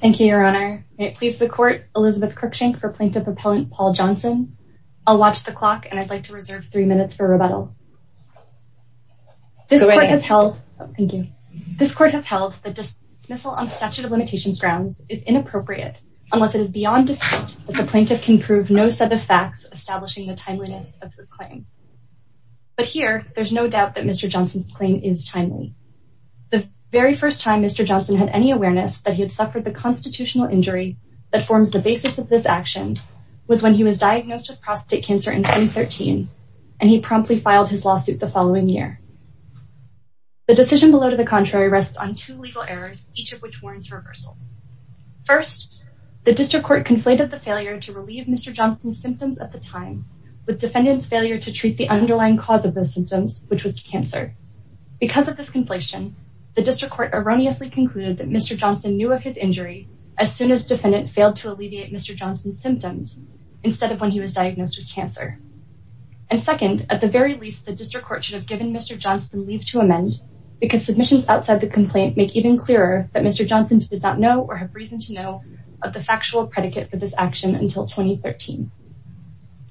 Thank you, Your Honor. May it please the Court, Elizabeth Cruickshank for Plaintiff Appellant Paul Johnson. I'll watch the clock and I'd like to reserve three minutes for rebuttal. This Court has held that dismissal on statute of limitations grounds is inappropriate unless it is beyond dispute that the Plaintiff can prove no set of facts establishing the timeliness of the claim. But here, there's no doubt that Mr. Johnson's claim is timely. The very first time Mr. Johnson had any awareness that he had suffered the constitutional injury that forms the basis of this action was when he was diagnosed with prostate cancer in 2013 and he promptly filed his lawsuit the following year. The decision below to the contrary rests on two legal errors, each of which warrants reversal. First, the District Court conflated the failure to relieve Mr. Johnson's symptoms at the time with defendants failure to treat the underlying cause of those symptoms, which was cancer. Because of this conflation, the District Court erroneously concluded that Mr. Johnson knew of his injury as soon as defendant failed to alleviate Mr. Johnson's symptoms instead of when he was diagnosed with cancer. And second, at the very least, the District Court should have given Mr. Johnson leave to amend because submissions outside the complaint make even clearer that Mr. Johnson did not know or have reason to know of the factual predicate for this action until 2013.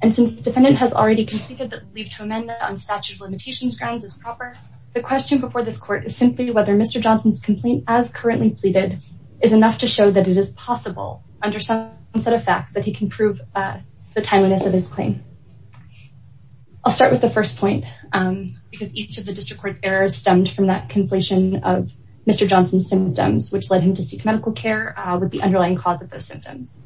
And since the defendant has already conceded that leave to grounds is proper, the question before this court is simply whether Mr. Johnson's complaint as currently pleaded is enough to show that it is possible under some set of facts that he can prove the timeliness of his claim. I'll start with the first point because each of the District Court errors stemmed from that conflation of Mr. Johnson's symptoms, which led him to seek medical care with the underlying cause of those symptoms.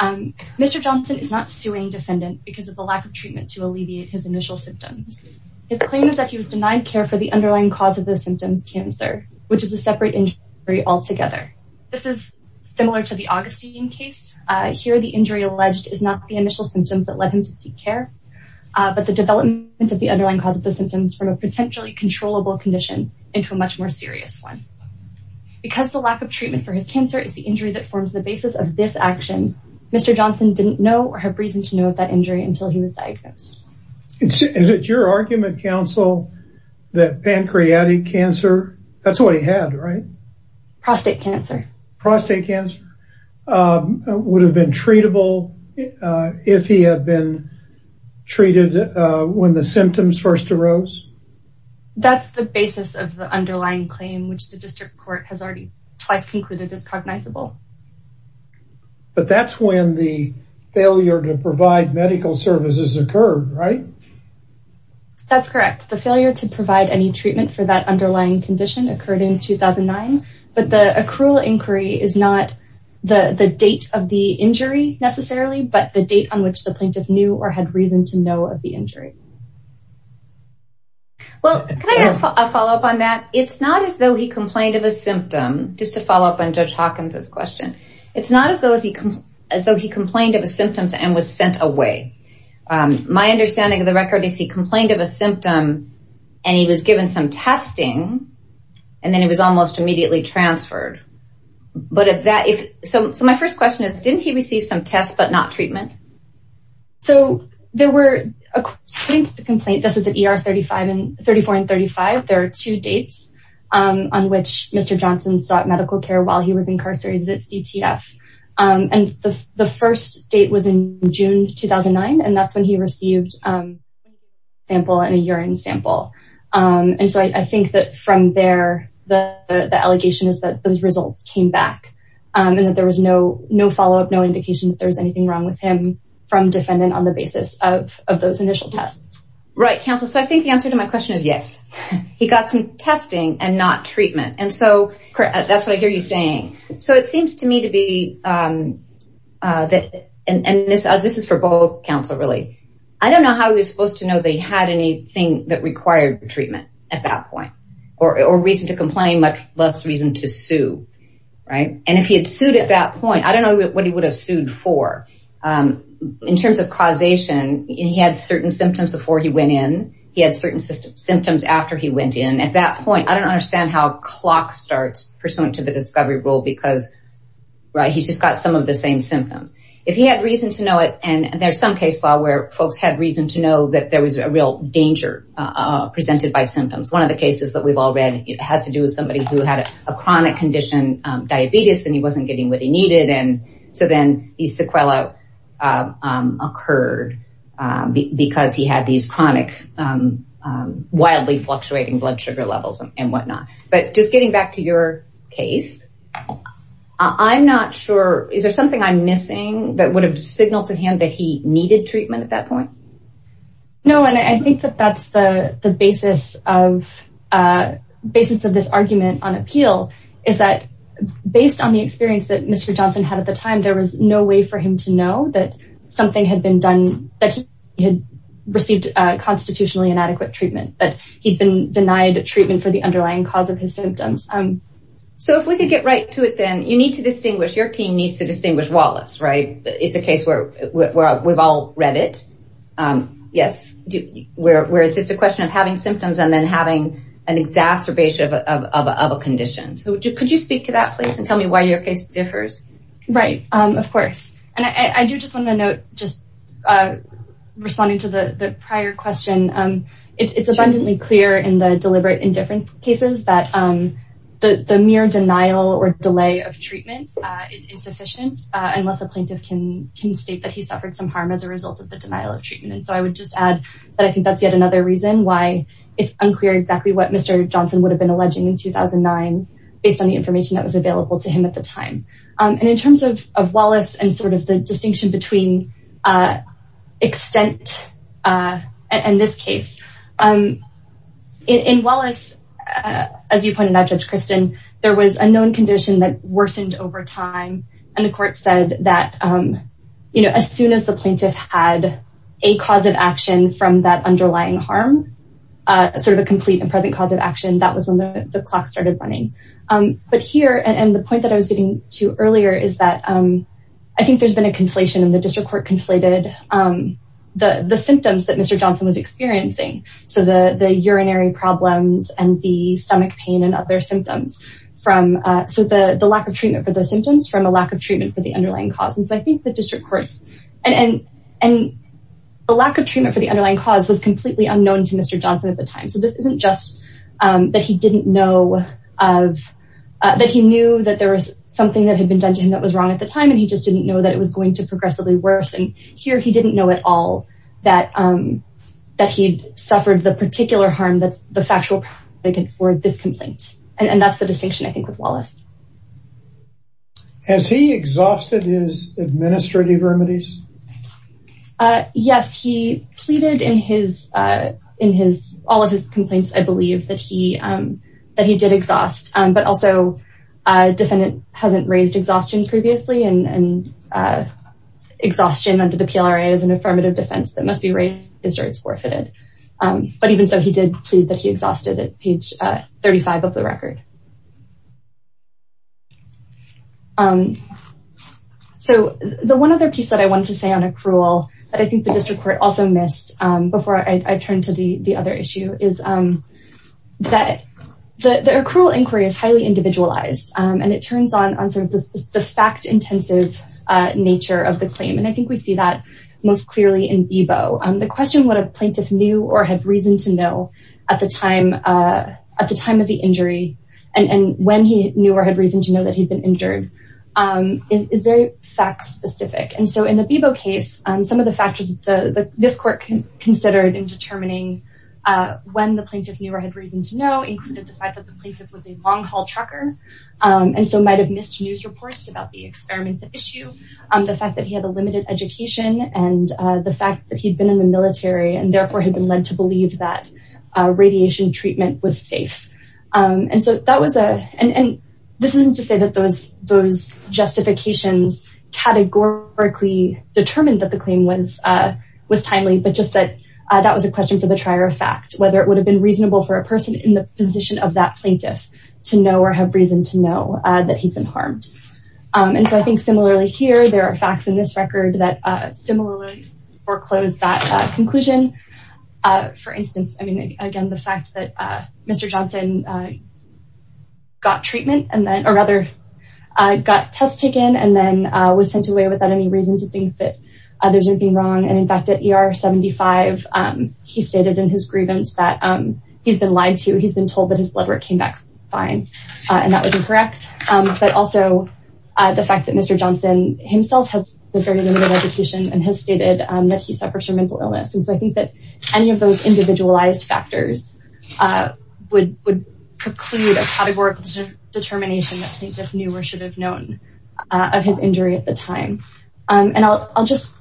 Mr. Johnson is not suing defendant because of the treatment to alleviate his initial symptoms. His claim is that he was denied care for the underlying cause of the symptoms, cancer, which is a separate injury altogether. This is similar to the Augustine case. Here, the injury alleged is not the initial symptoms that led him to seek care, but the development of the underlying cause of the symptoms from a potentially controllable condition into a much more serious one. Because the lack of treatment for his cancer is the injury that forms the basis of this action, Mr. Johnson didn't know or have reason to know of that injury until he was diagnosed. Is it your argument, counsel, that pancreatic cancer, that's what he had, right? Prostate cancer. Prostate cancer would have been treatable if he had been treated when the symptoms first arose? That's the basis of the underlying claim, which the District Court has twice concluded as cognizable. But that's when the failure to provide medical services occurred, right? That's correct. The failure to provide any treatment for that underlying condition occurred in 2009, but the accrual inquiry is not the date of the injury necessarily, but the date on which the plaintiff knew or had reason to know of the injury. Well, can I have a follow-up on that? It's not as though he complained of a symptom, just to follow up on Judge Hawkins' question. It's not as though he complained of symptoms and was sent away. My understanding of the record is he complained of a symptom and he was given some testing, and then he was almost immediately transferred. So my first question is, didn't he receive some tests but not treatment? So there were, according to the complaint, this is at ER 34 and 35, there are two dates on which Mr. Johnson sought medical care while he was incarcerated at CTF. And the first date was in June 2009, and that's when he received a blood sample and a urine sample. And so I think that from there, the allegation is that those results came back and that there was no follow-up, no indication that there was anything wrong with him from defendant on the basis of those initial tests. Right, counsel. So I think the answer to my question is yes. He got some testing and not treatment. And so that's what I hear you saying. So it seems to me to be, and this is for both, counsel, really. I don't know how he was supposed to know that he had anything that required treatment at that point, or reason to complain, much less reason to sue, right? And if he had that point, I don't know what he would have sued for. In terms of causation, he had certain symptoms before he went in. He had certain symptoms after he went in. At that point, I don't understand how clock starts pursuant to the discovery rule because, right, he's just got some of the same symptoms. If he had reason to know it, and there's some case law where folks had reason to know that there was a real danger presented by symptoms. One of the cases that we've all read has to do with somebody who had a chronic condition, diabetes, and he wasn't getting what he needed. And so then the sequela occurred because he had these chronic, wildly fluctuating blood sugar levels and whatnot. But just getting back to your case, I'm not sure, is there something I'm missing that would have signaled to him that he needed treatment at that point? No, and I think that that's the basis of this argument on appeal, is that based on the experience that Mr. Johnson had at the time, there was no way for him to know that something had been done, that he had received constitutionally inadequate treatment, that he'd been denied treatment for the underlying cause of his symptoms. So if we could get right to it then, you need to distinguish, your team needs to distinguish Wallace, right? It's a case where we've all read it. Yes, where it's just a question of having symptoms and then having an exacerbation of a condition. So could you speak to that, please, and tell me why your case differs? Right, of course. And I do just want to note, just responding to the prior question, it's abundantly clear in the deliberate indifference cases that the mere denial or delay of treatment is insufficient unless a plaintiff can state that he suffered some harm as a result of the denial of treatment. And so I would just add that I think that's yet another reason why it's unclear exactly what Mr. Johnson would have been alleging in 2009 based on the information that was available to him at the time. And in terms of Wallace and sort of the distinction between extent and this case, in Wallace, as you pointed out, Judge Kristen, there was a known condition that worsened over time. And the court said that as soon as the plaintiff had a cause of sort of a complete and present cause of action, that was when the clock started running. But here, and the point that I was getting to earlier is that I think there's been a conflation and the district court conflated the symptoms that Mr. Johnson was experiencing. So the urinary problems and the stomach pain and other symptoms from, so the lack of treatment for those symptoms from a lack of treatment for the underlying causes. I think the district courts and the lack treatment for the underlying cause was completely unknown to Mr. Johnson at the time. So this isn't just that he didn't know of, that he knew that there was something that had been done to him that was wrong at the time. And he just didn't know that it was going to progressively worse. And here he didn't know at all that he'd suffered the particular harm that's the factual for this complaint. And that's the distinction I think with Wallace. Has he exhausted his administrative remedies? Yes, he pleaded in all of his complaints, I believe, that he did exhaust. But also a defendant hasn't raised exhaustion previously and exhaustion under the PLRA is an affirmative defense that must be raised if it starts forfeited. But even so, he did please that exhausted at page 35 of the record. So the one other piece that I wanted to say on accrual that I think the district court also missed before I turn to the other issue is that the accrual inquiry is highly individualized and it turns on sort of the fact-intensive nature of the claim. And I think we see that most clearly in Bebo. The question what a plaintiff knew or had reason to know at the time of the injury and when he knew or had reason to know that he'd been injured is very fact-specific. And so in the Bebo case, some of the factors this court considered in determining when the plaintiff knew or had reason to know included the fact that the plaintiff was a long-haul trucker and so might have missed news reports about the experiments at issue. The fact that he had a limited education and the fact that he'd been in the military and therefore had been led to believe that radiation treatment was safe. And so that was a, and this isn't to say that those justifications categorically determined that the claim was timely, but just that that was a question for the trier of fact, whether it would have been reasonable for a person in the position of that plaintiff to know or have reason to know that he'd been harmed. And so I think similarly here, there are facts in this record that similarly foreclose that conclusion. For instance, I mean, again, the fact that Mr. Johnson got treatment and then, or rather got tests taken and then was sent away without any reason to think that there's anything wrong. And in fact, at ER 75, he stated in his grievance that he's been lied to. He's been told that his blood work came back fine and that was incorrect. But also the fact that Mr. Johnson himself has a very limited education and has stated that he suffers from mental illness. And so I think that any of those individualized factors would preclude a categorical determination that the plaintiff knew or should have known of his injury at the time. And I'll just,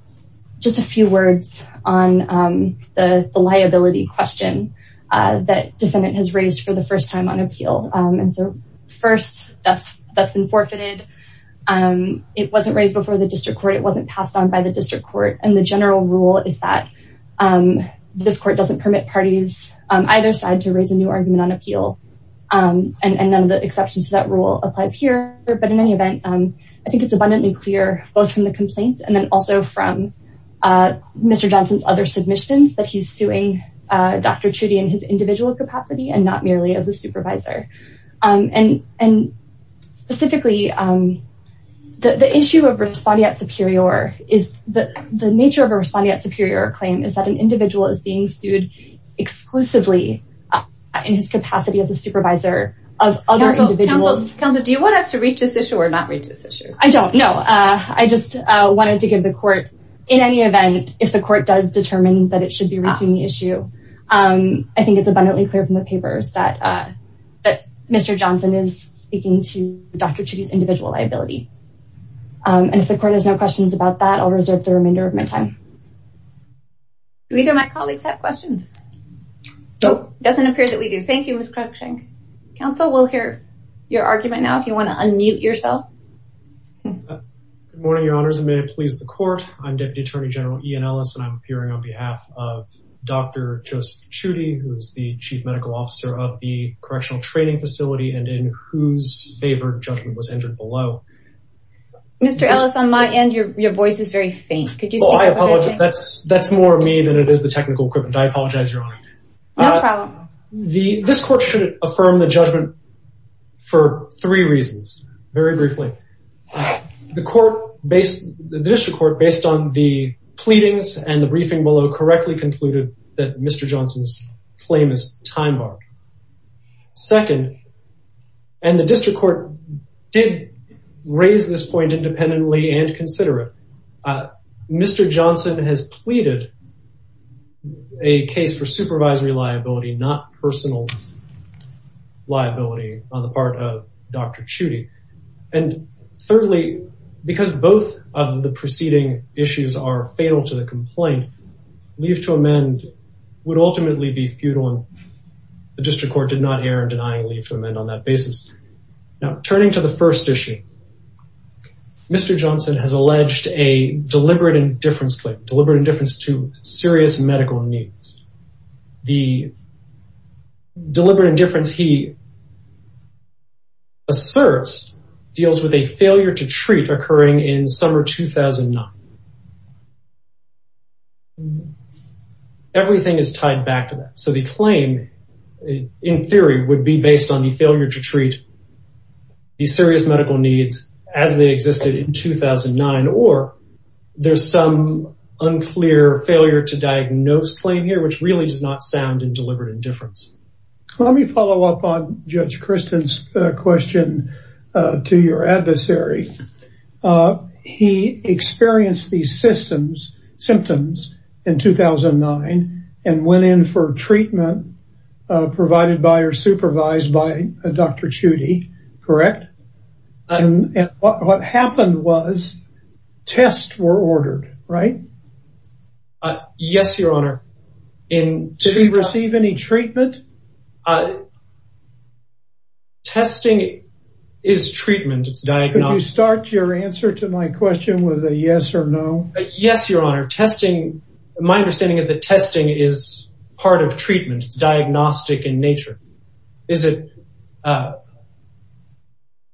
just a few words on the liability question that defendant has raised for the first time on first that's that's been forfeited. It wasn't raised before the district court. It wasn't passed on by the district court. And the general rule is that this court doesn't permit parties either side to raise a new argument on appeal. And none of the exceptions to that rule applies here. But in any event, I think it's abundantly clear both from the complaint and then also from Mr. Johnson's other submissions that he's suing Dr. Trudy in his individual capacity and not and specifically the issue of respondeat superior is that the nature of a respondeat superior claim is that an individual is being sued exclusively in his capacity as a supervisor of other individuals. Counsel, do you want us to reach this issue or not reach this issue? I don't know. I just wanted to give the court in any event, if the court does determine that it should be reaching the issue, I think it's abundantly clear from the papers that, that Mr. Johnson is speaking to Dr. Trudy's individual liability. And if the court has no questions about that, I'll reserve the remainder of my time. Do either of my colleagues have questions? Doesn't appear that we do. Thank you, Ms. Cruikshank. Counsel, we'll hear your argument now, if you want to unmute yourself. Good morning, your honors, a minute please the court. I'm Deputy Attorney General Ian Ellis and I'm appearing on behalf of Dr. Joseph Trudy, who is the Chief Medical Officer of the Correctional Training Facility and in whose favor judgment was entered below. Mr. Ellis, on my end, your voice is very faint. That's more mean than it is the technical equipment. I apologize, your honor. This court should affirm the judgment for three reasons, very briefly. The court based, the district court based on the pleadings and the briefing below correctly concluded that Mr. Johnson's claim is time-barred. Second, and the district court did raise this point independently and consider it, Mr. Johnson has pleaded a case for supervisory liability, not the proceeding issues are fatal to the complaint. Leave to amend would ultimately be futile and the district court did not err in denying leave to amend on that basis. Now, turning to the first issue, Mr. Johnson has alleged a deliberate indifference claim, deliberate indifference to serious medical needs. The deliberate indifference he made in 2009. Everything is tied back to that. So the claim, in theory, would be based on the failure to treat the serious medical needs as they existed in 2009 or there's some unclear failure to diagnose claim here, which really does not sound in deliberate indifference. Let me follow up on Judge Christin's question to your adversary. He experienced these systems, symptoms in 2009 and went in for treatment provided by or supervised by Dr. Chudy, correct? And what happened was tests were ordered, right? Uh, yes, your honor. Did he receive any treatment? Testing is treatment. It's diagnostic. Could you start your answer to my question with a yes or no? Yes, your honor. Testing, my understanding is that testing is part of treatment. It's diagnostic in nature. Is it, uh,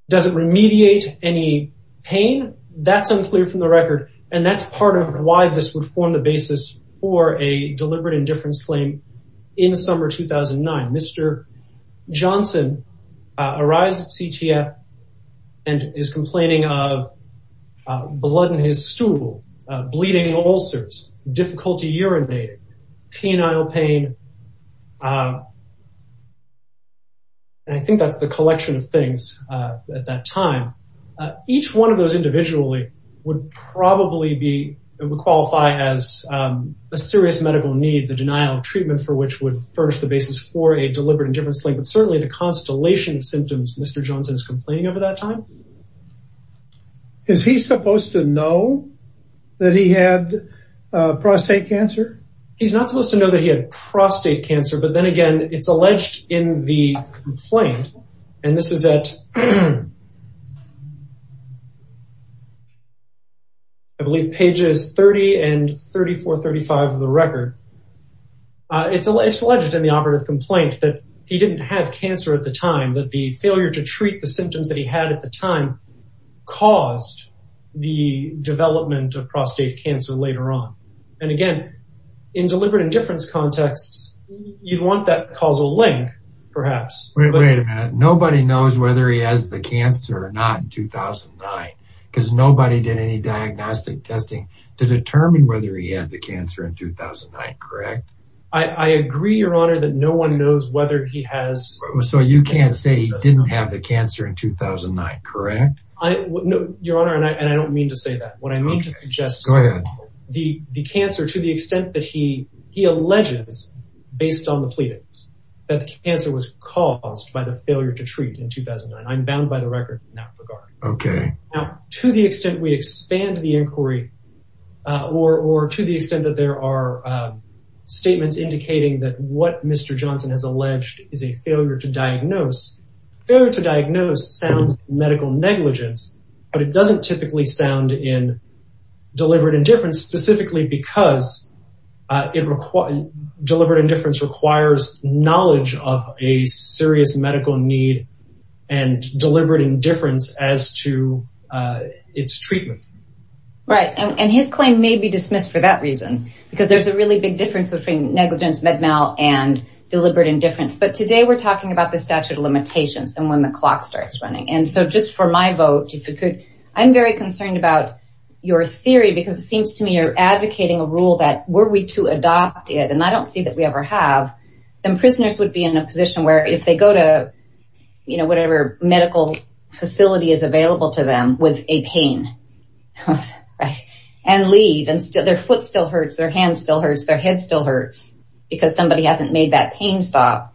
does it remediate any pain? That's unclear from the record and that's part of why this would form the basis for a deliberate indifference claim in summer 2009. Mr. Johnson arrives at CTF and is complaining of blood in his stool, bleeding ulcers, difficulty urinating, penile pain. And I think that's the collection of things at that time. Each one of those individually would probably be, would qualify as a serious medical need, the denial of treatment for which would furnish the basis for a deliberate indifference claim, but certainly the constellation of symptoms Mr. Johnson is complaining over that time. Is he supposed to know that he had prostate cancer? He's not supposed to know that he had prostate cancer, but then again, it's alleged in the complaint, and this is at, I believe pages 30 and 34, 35 of the record. It's alleged in the operative complaint that he didn't have cancer at the time, that the failure to treat the symptoms that he had at the time caused the development of prostate cancer later on. And again, in deliberate indifference contexts, you'd want that causal link perhaps. Wait a minute. Nobody knows whether he has the cancer or not in 2009 because nobody did any diagnostic testing to determine whether he had the cancer in 2009, correct? I agree, your honor, that no one knows whether he has. So you can't say he didn't have the cancer in 2009, correct? Your honor, and I don't mean to say that. What I mean to suggest the cancer to the extent that he alleges, based on the pleadings, that the cancer was caused by the failure to treat in 2009. I'm bound by the record in that regard. Okay. Now, to the extent we expand the inquiry, or to the extent that there are statements indicating that what Mr. Johnson has alleged is a failure to diagnose, failure to diagnose sounds medical negligence, but it doesn't typically sound in deliberate indifference specifically because deliberate indifference requires knowledge of a serious medical need and deliberate indifference as to its treatment. Right. And his claim may be dismissed for that reason, because there's a really big difference between negligence, med mal, and deliberate indifference. But today, we're talking about the statute of limitations and when the clock starts running. And so just for my vote, I'm very concerned about your theory because it seems to me you're advocating a rule that were we to adopt it, and I don't see that we ever have, then prisoners would be in a position where if they go to, you know, whatever medical facility is available to them with a pain, and leave, and their foot still hurts, their hand still hurts, their head still hurts, because somebody hasn't made that pain stop,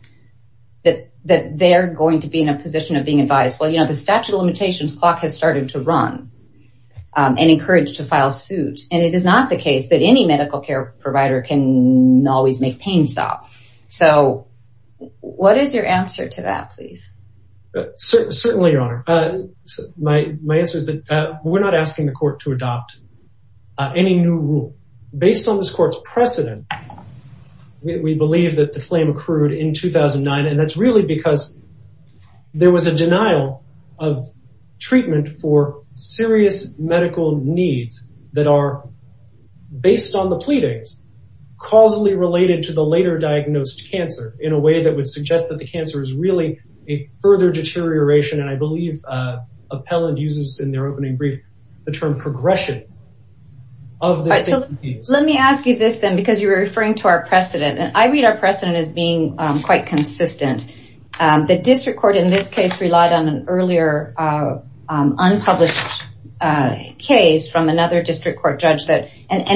that they're going to be in a position of being the statute of limitations clock has started to run and encouraged to file suit. And it is not the case that any medical care provider can always make pain stop. So what is your answer to that, please? Certainly, Your Honor. My answer is that we're not asking the court to adopt any new rule. Based on this court's precedent, we believe that the claim accrued in 2009. And it's really because there was a denial of treatment for serious medical needs that are based on the pleadings, causally related to the later diagnosed cancer in a way that would suggest that the cancer is really a further deterioration. And I believe Appellant uses in their opening brief, the term progression of the disease. Let me ask you this, then, because you were consistent. The district court in this case relied on an earlier unpublished case from another district court judge that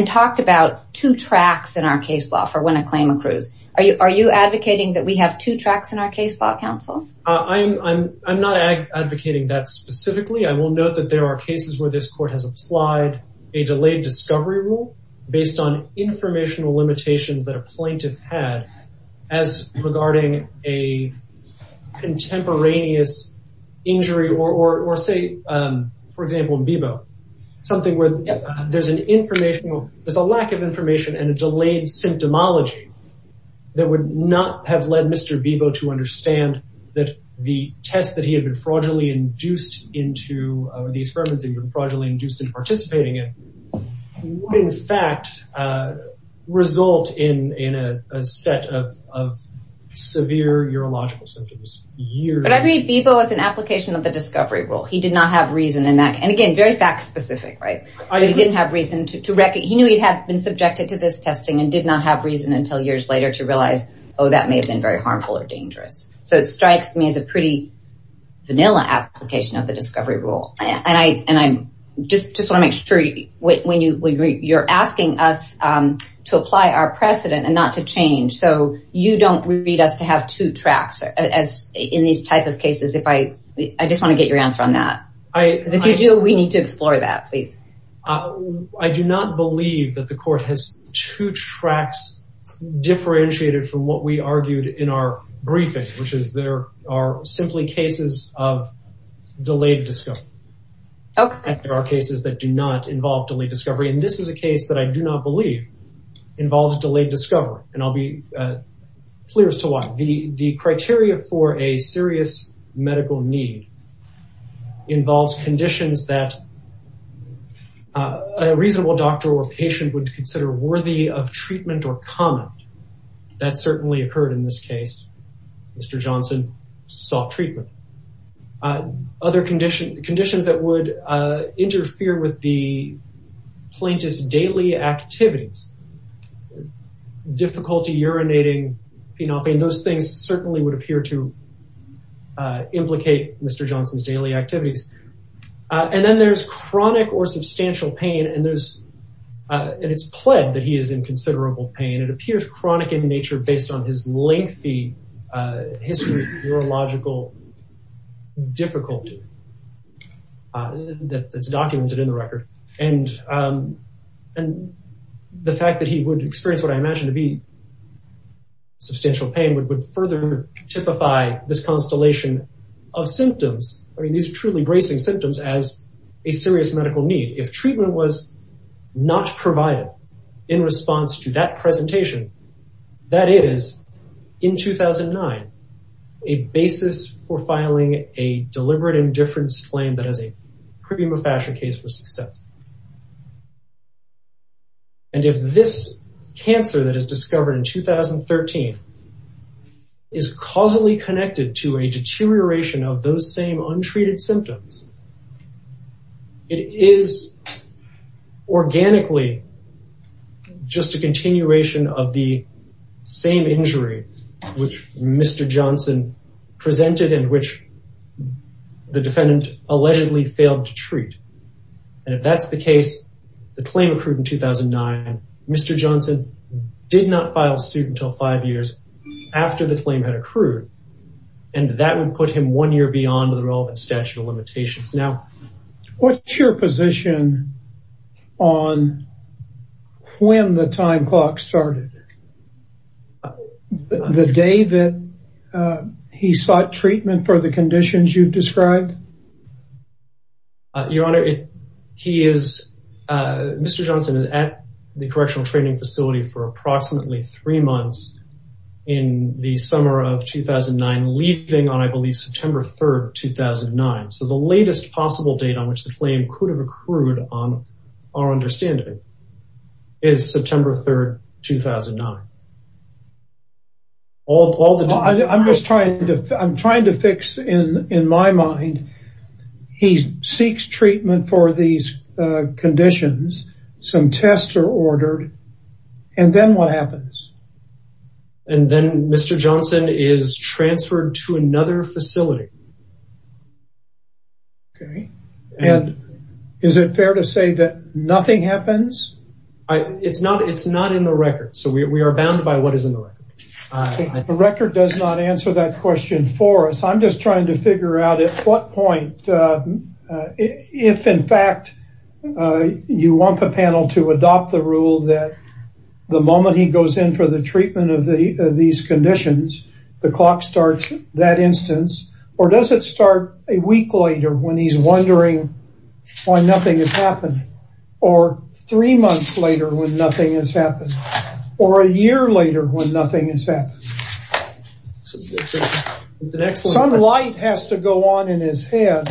talked about two tracks in our case law for when a claim accrues. Are you advocating that we have two tracks in our case law, counsel? I'm not advocating that specifically. I will note that there are cases where this court has applied a delayed discovery rule based on a contemporaneous injury, or say, for example, in Bebo, something where there's a lack of information and a delayed symptomology that would not have led Mr. Bebo to understand that the test that he had been fraudulently induced into, or the experiments that he had been fraudulently inducing. But I read Bebo as an application of the discovery rule. He did not have reason in that. And again, very fact specific, right? He didn't have reason to wreck it. He knew he'd have been subjected to this testing and did not have reason until years later to realize, oh, that may have been very harmful or dangerous. So it strikes me as a pretty vanilla application of the discovery rule. And I just want to make sure when you're asking us to apply our precedent and not to you don't read us to have two tracks in these types of cases. I just want to get your answer on that. Because if you do, we need to explore that, please. I do not believe that the court has two tracks differentiated from what we argued in our briefing, which is there are simply cases of delayed discovery. There are cases that do not involve delayed discovery. And this is a case that I do not believe involves delayed discovery. And I'll be clear as to why. The criteria for a serious medical need involves conditions that a reasonable doctor or patient would consider worthy of treatment or comment. That certainly occurred in this case. Mr. Johnson sought treatment. Other conditions that would interfere with the plaintiff's daily activities, difficulty urinating, you know, those things certainly would appear to implicate Mr. Johnson's daily activities. And then there's chronic or substantial pain. And it's pled that he is in considerable pain. It appears chronic in nature based on his lengthy history of neurological difficulty that's documented in the record. And the fact that he would experience what I imagine to be substantial pain would further typify this constellation of symptoms. I mean, these are truly bracing symptoms as a serious medical need. If presentation, that is, in 2009, a basis for filing a deliberate indifference claim that is a prima facie case for success. And if this cancer that is discovered in 2013 is causally connected to a deterioration of those same untreated symptoms, it is organically just a continuation of the same injury which Mr. Johnson presented and which the defendant allegedly failed to treat. And if that's the case, the claim accrued in 2009. Mr. Johnson did not file suit until five years after the claim had accrued. And that would put him one year beyond the relevant statute of limitations. Now, what's your position on when the time clock started? The day that he sought treatment for the conditions you've described? Your Honor, he is, Mr. Johnson is at the correctional training facility for approximately three months in the summer of 2009, leaving on, I believe, September 3, 2009. So the latest possible date on which the claim could have accrued on our understanding is September 3, 2009. I'm just trying to, I'm trying to fix in my mind, he seeks treatment for these conditions, some tests are ordered, and then what happens? And then Mr. Johnson is transferred to another facility. Okay. And is it fair to say that nothing happens? It's not, it's not in the record. So we are bound by what is in the record. The record does not answer that question for us. I'm just trying to figure out at what point, if in fact, you want the panel to adopt the rule that the moment he goes in for the treatment of these conditions, the clock starts that instance, or does it start a week later when he's wondering why nothing has happened? Or three months later when nothing has happened? Or a year later when nothing has happened? Some light has to go on in his head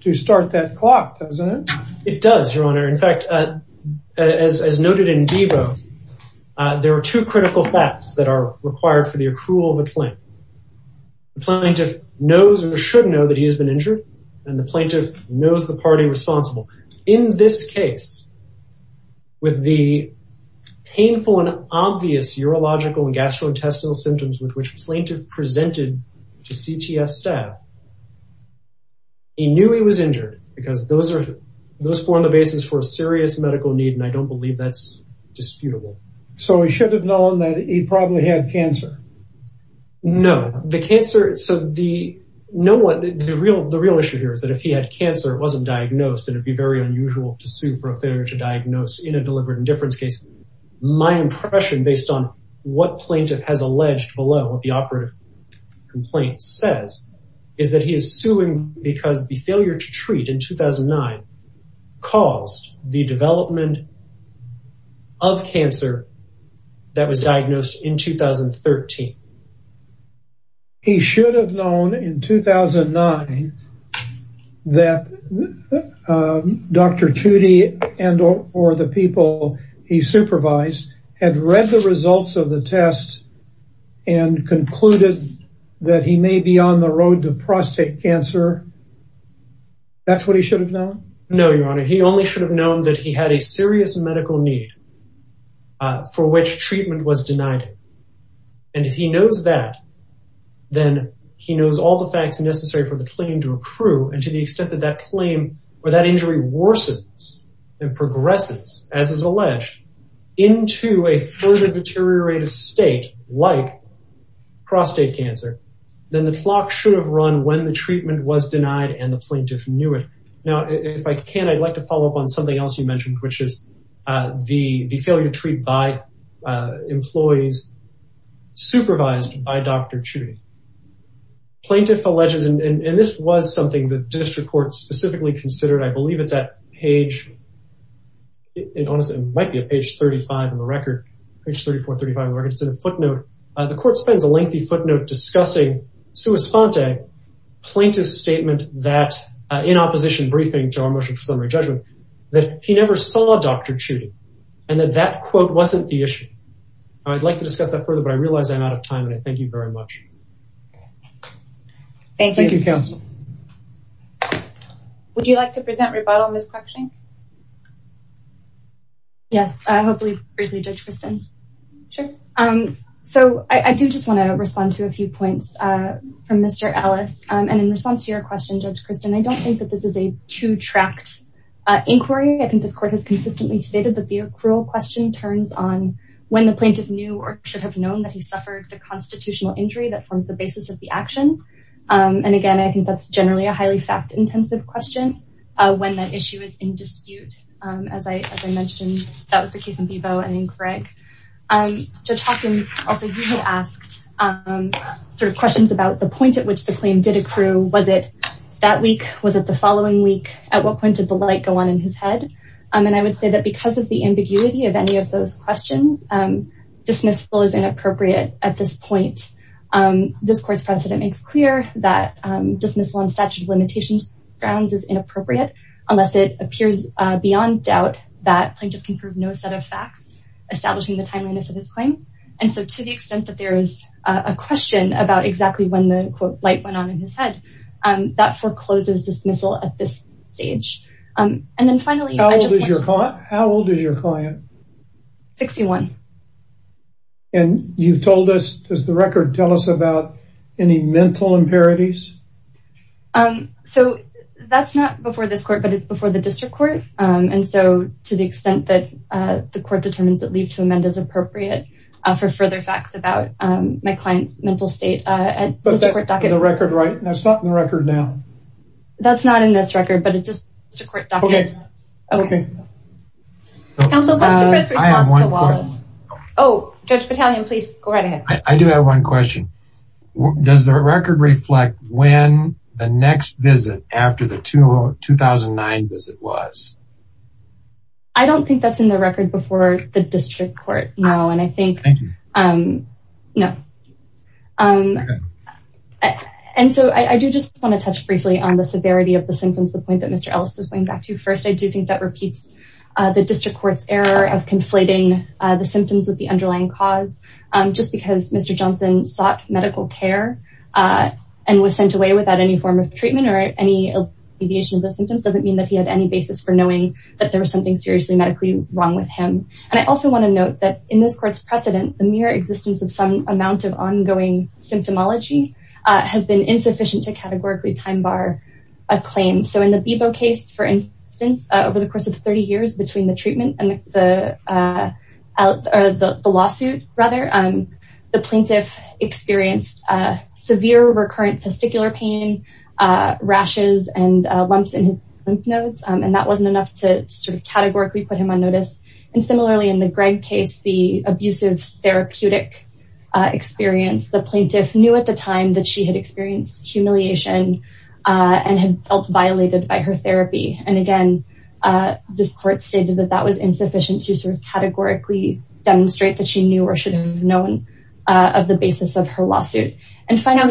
to start that clock, doesn't it? It does, Your Honor. In fact, as noted in Debo, there are two critical facts that are required for the accrual of a claim. The plaintiff knows or should know that he has been injured, and the plaintiff knows the party responsible. In this case, with the painful and obvious urological and gastrointestinal symptoms with which plaintiff presented to CTF staff, he knew he was injured because those are, those form the basis for a serious medical need, and I don't believe that's disputable. So he should have known that he probably had cancer. No, the cancer, so the, no one, the real, the real issue here is that if he had cancer, it wasn't diagnosed, and it'd be very unusual to sue for a failure to diagnose in a delivered indifference case. My impression, based on what plaintiff has alleged below what the operative complaint says, is that he is suing because the failure to treat in 2009 caused the development of cancer that was diagnosed in 2013. He should have known in 2009 that Dr. Tudy and or the people he supervised had read the results of the test and concluded that he may be on the road to prostate cancer. That's what he should have known? No, your honor, he only should have known that he had a medical need for which treatment was denied, and if he knows that, then he knows all the facts necessary for the claim to accrue, and to the extent that that claim or that injury worsens and progresses, as is alleged, into a further deteriorated state like prostate cancer, then the clock should have run when the treatment was denied and the plaintiff knew it. Now, if I can, I'd like to follow up on something else you mentioned, which is the failure to treat by employees supervised by Dr. Tudy. Plaintiff alleges, and this was something the district court specifically considered, I believe it's at page, it might be at page 35 of the record, page 34, 35 of the record, it's in a footnote. The court spends a briefing to our motion for summary judgment that he never saw Dr. Tudy, and that that quote wasn't the issue. I'd like to discuss that further, but I realize I'm out of time, and I thank you very much. Thank you. Thank you, counsel. Would you like to present rebuttal in this question? Yes, hopefully briefly, Judge Christin. Sure. So, I do just want to respond to a few points from Mr. Ellis, and in response to your question, Judge Christin, I don't think that this is a two-tracked inquiry. I think this court has consistently stated that the accrual question turns on when the plaintiff knew or should have known that he suffered a constitutional injury that forms the basis of the action. And again, I think that's generally a highly fact-intensive question when that issue is in dispute. As I mentioned, that was the case in Bebo and in Greg. Judge Hopkins, also, you had asked sort of questions about the point at which the claim did accrue. Was it that week? Was it the following week? At what point did the light go on in his head? And I would say that because of the ambiguity of any of those questions, dismissal is inappropriate at this point. This court's precedent makes clear that dismissal on statute of limitations grounds is inappropriate unless it appears beyond doubt that plaintiff can prove no set of facts establishing the timeliness of his claim. And so, to the extent that there is a question about exactly when the, quote, light went on in his head, that forecloses dismissal at this stage. And then finally, I just want to... How old is your client? 61. And you've told us, does the record tell us about any mental impurities? So, that's not before this court, but it's before the district court. And so, to the extent that the court determines that leave to amend is appropriate for further facts about my client's mental state... But that's in the record, right? That's not in the record now. That's not in this record, but it does... Okay. Counsel, what's your best response to Wallace? Oh, Judge Battalion, please go right ahead. I do have one question. Does the record reflect when the next visit after the 2009 visit was? I don't think that's in the record before the district court, no. And I think... Thank you. No. Okay. And so, I do just want to touch briefly on the severity of the symptoms, the point that Mr. Ellis is going back to. First, I do think that repeats the district court's error of conflating the symptoms with the underlying cause. Just because Mr. Johnson sought medical care and was sent away without any form of treatment or any mediation of those symptoms doesn't mean that he had any basis for knowing that there was something seriously medically wrong with him. And I also want to note that in this court's precedent, the mere existence of some amount of ongoing symptomology has been insufficient to categorically time bar a claim. So, in the Bebo case, for instance, over the course of 30 years between the treatment and the lawsuit, the plaintiff experienced severe recurrent testicular pain, rashes, and lumps in his lymph nodes, and that wasn't enough to sort of categorically put him on notice. And similarly, in the Gregg case, the abusive therapeutic experience, the plaintiff knew at the time that she had experienced humiliation and had felt violated by her therapy. And again, this court stated that that was insufficient to sort of categorically demonstrate that she knew or should have known of the basis of her lawsuit. And finally... If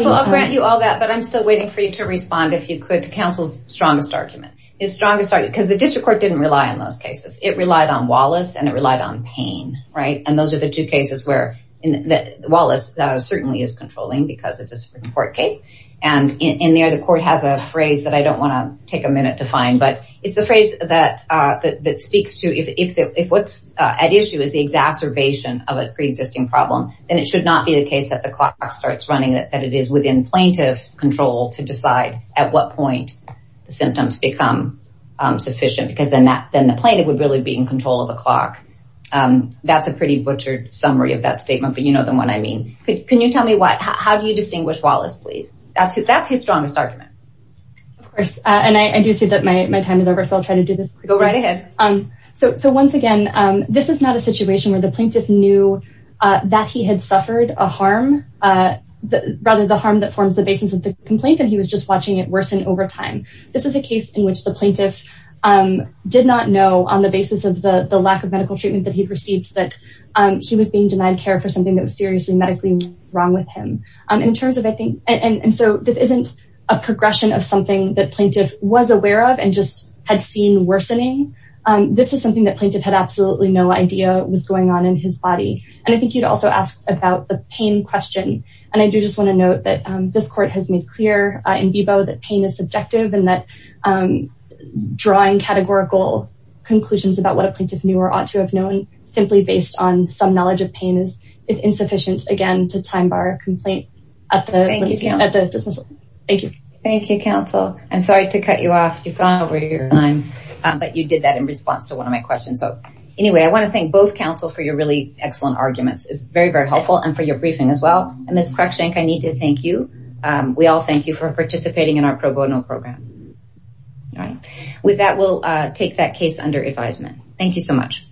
you could, to counsel's strongest argument. Because the district court didn't rely on those cases. It relied on Wallace and it relied on Payne, right? And those are the two cases where Wallace certainly is controlling because it's a Supreme Court case. And in there, the court has a phrase that I don't want to take a minute to find, but it's a phrase that speaks to if what's at issue is the exacerbation of a pre-existing problem, then it should not be a case that the clock starts running, that it is within plaintiff's control to decide at what point the symptoms become sufficient, because then the plaintiff would really be in control of the clock. That's a pretty butchered summary of that statement, but you know the one I mean. Can you tell me how do you distinguish Wallace, please? That's his strongest argument. Of course. And I do see that my time is over, so I'll try to do this. Go right ahead. So once again, this is not a situation where the plaintiff knew that he had suffered a harm, rather the harm that forms the basis of the complaint, and he was just watching it worsen over time. This is a case in which the plaintiff did not know on the basis of the lack of medical treatment that he'd received that he was being denied care for something that was seriously medically wrong with him. And so this isn't a progression of something that plaintiff was aware of and just had seen worsening. This is something that plaintiff had absolutely no idea was going on in his body. And I think you'd also ask about the pain question. And I do just want to note that this court has made clear in vivo that pain is subjective and that drawing categorical conclusions about what a plaintiff knew or ought to have known simply based on some knowledge of pain is insufficient, again, to time bar a complaint at the dismissal. Thank you. Thank you, counsel. I'm sorry to cut you off. You've gone over your time, but you did that in response to one of my questions. So anyway, I want to thank both counsel for your really excellent arguments. It's very, very helpful. And for your briefing as well. And Ms. Cruikshank, I need to thank you. We all thank you for participating in our pro bono program. All right. With that, we'll take that case under advisement. Thank you so much.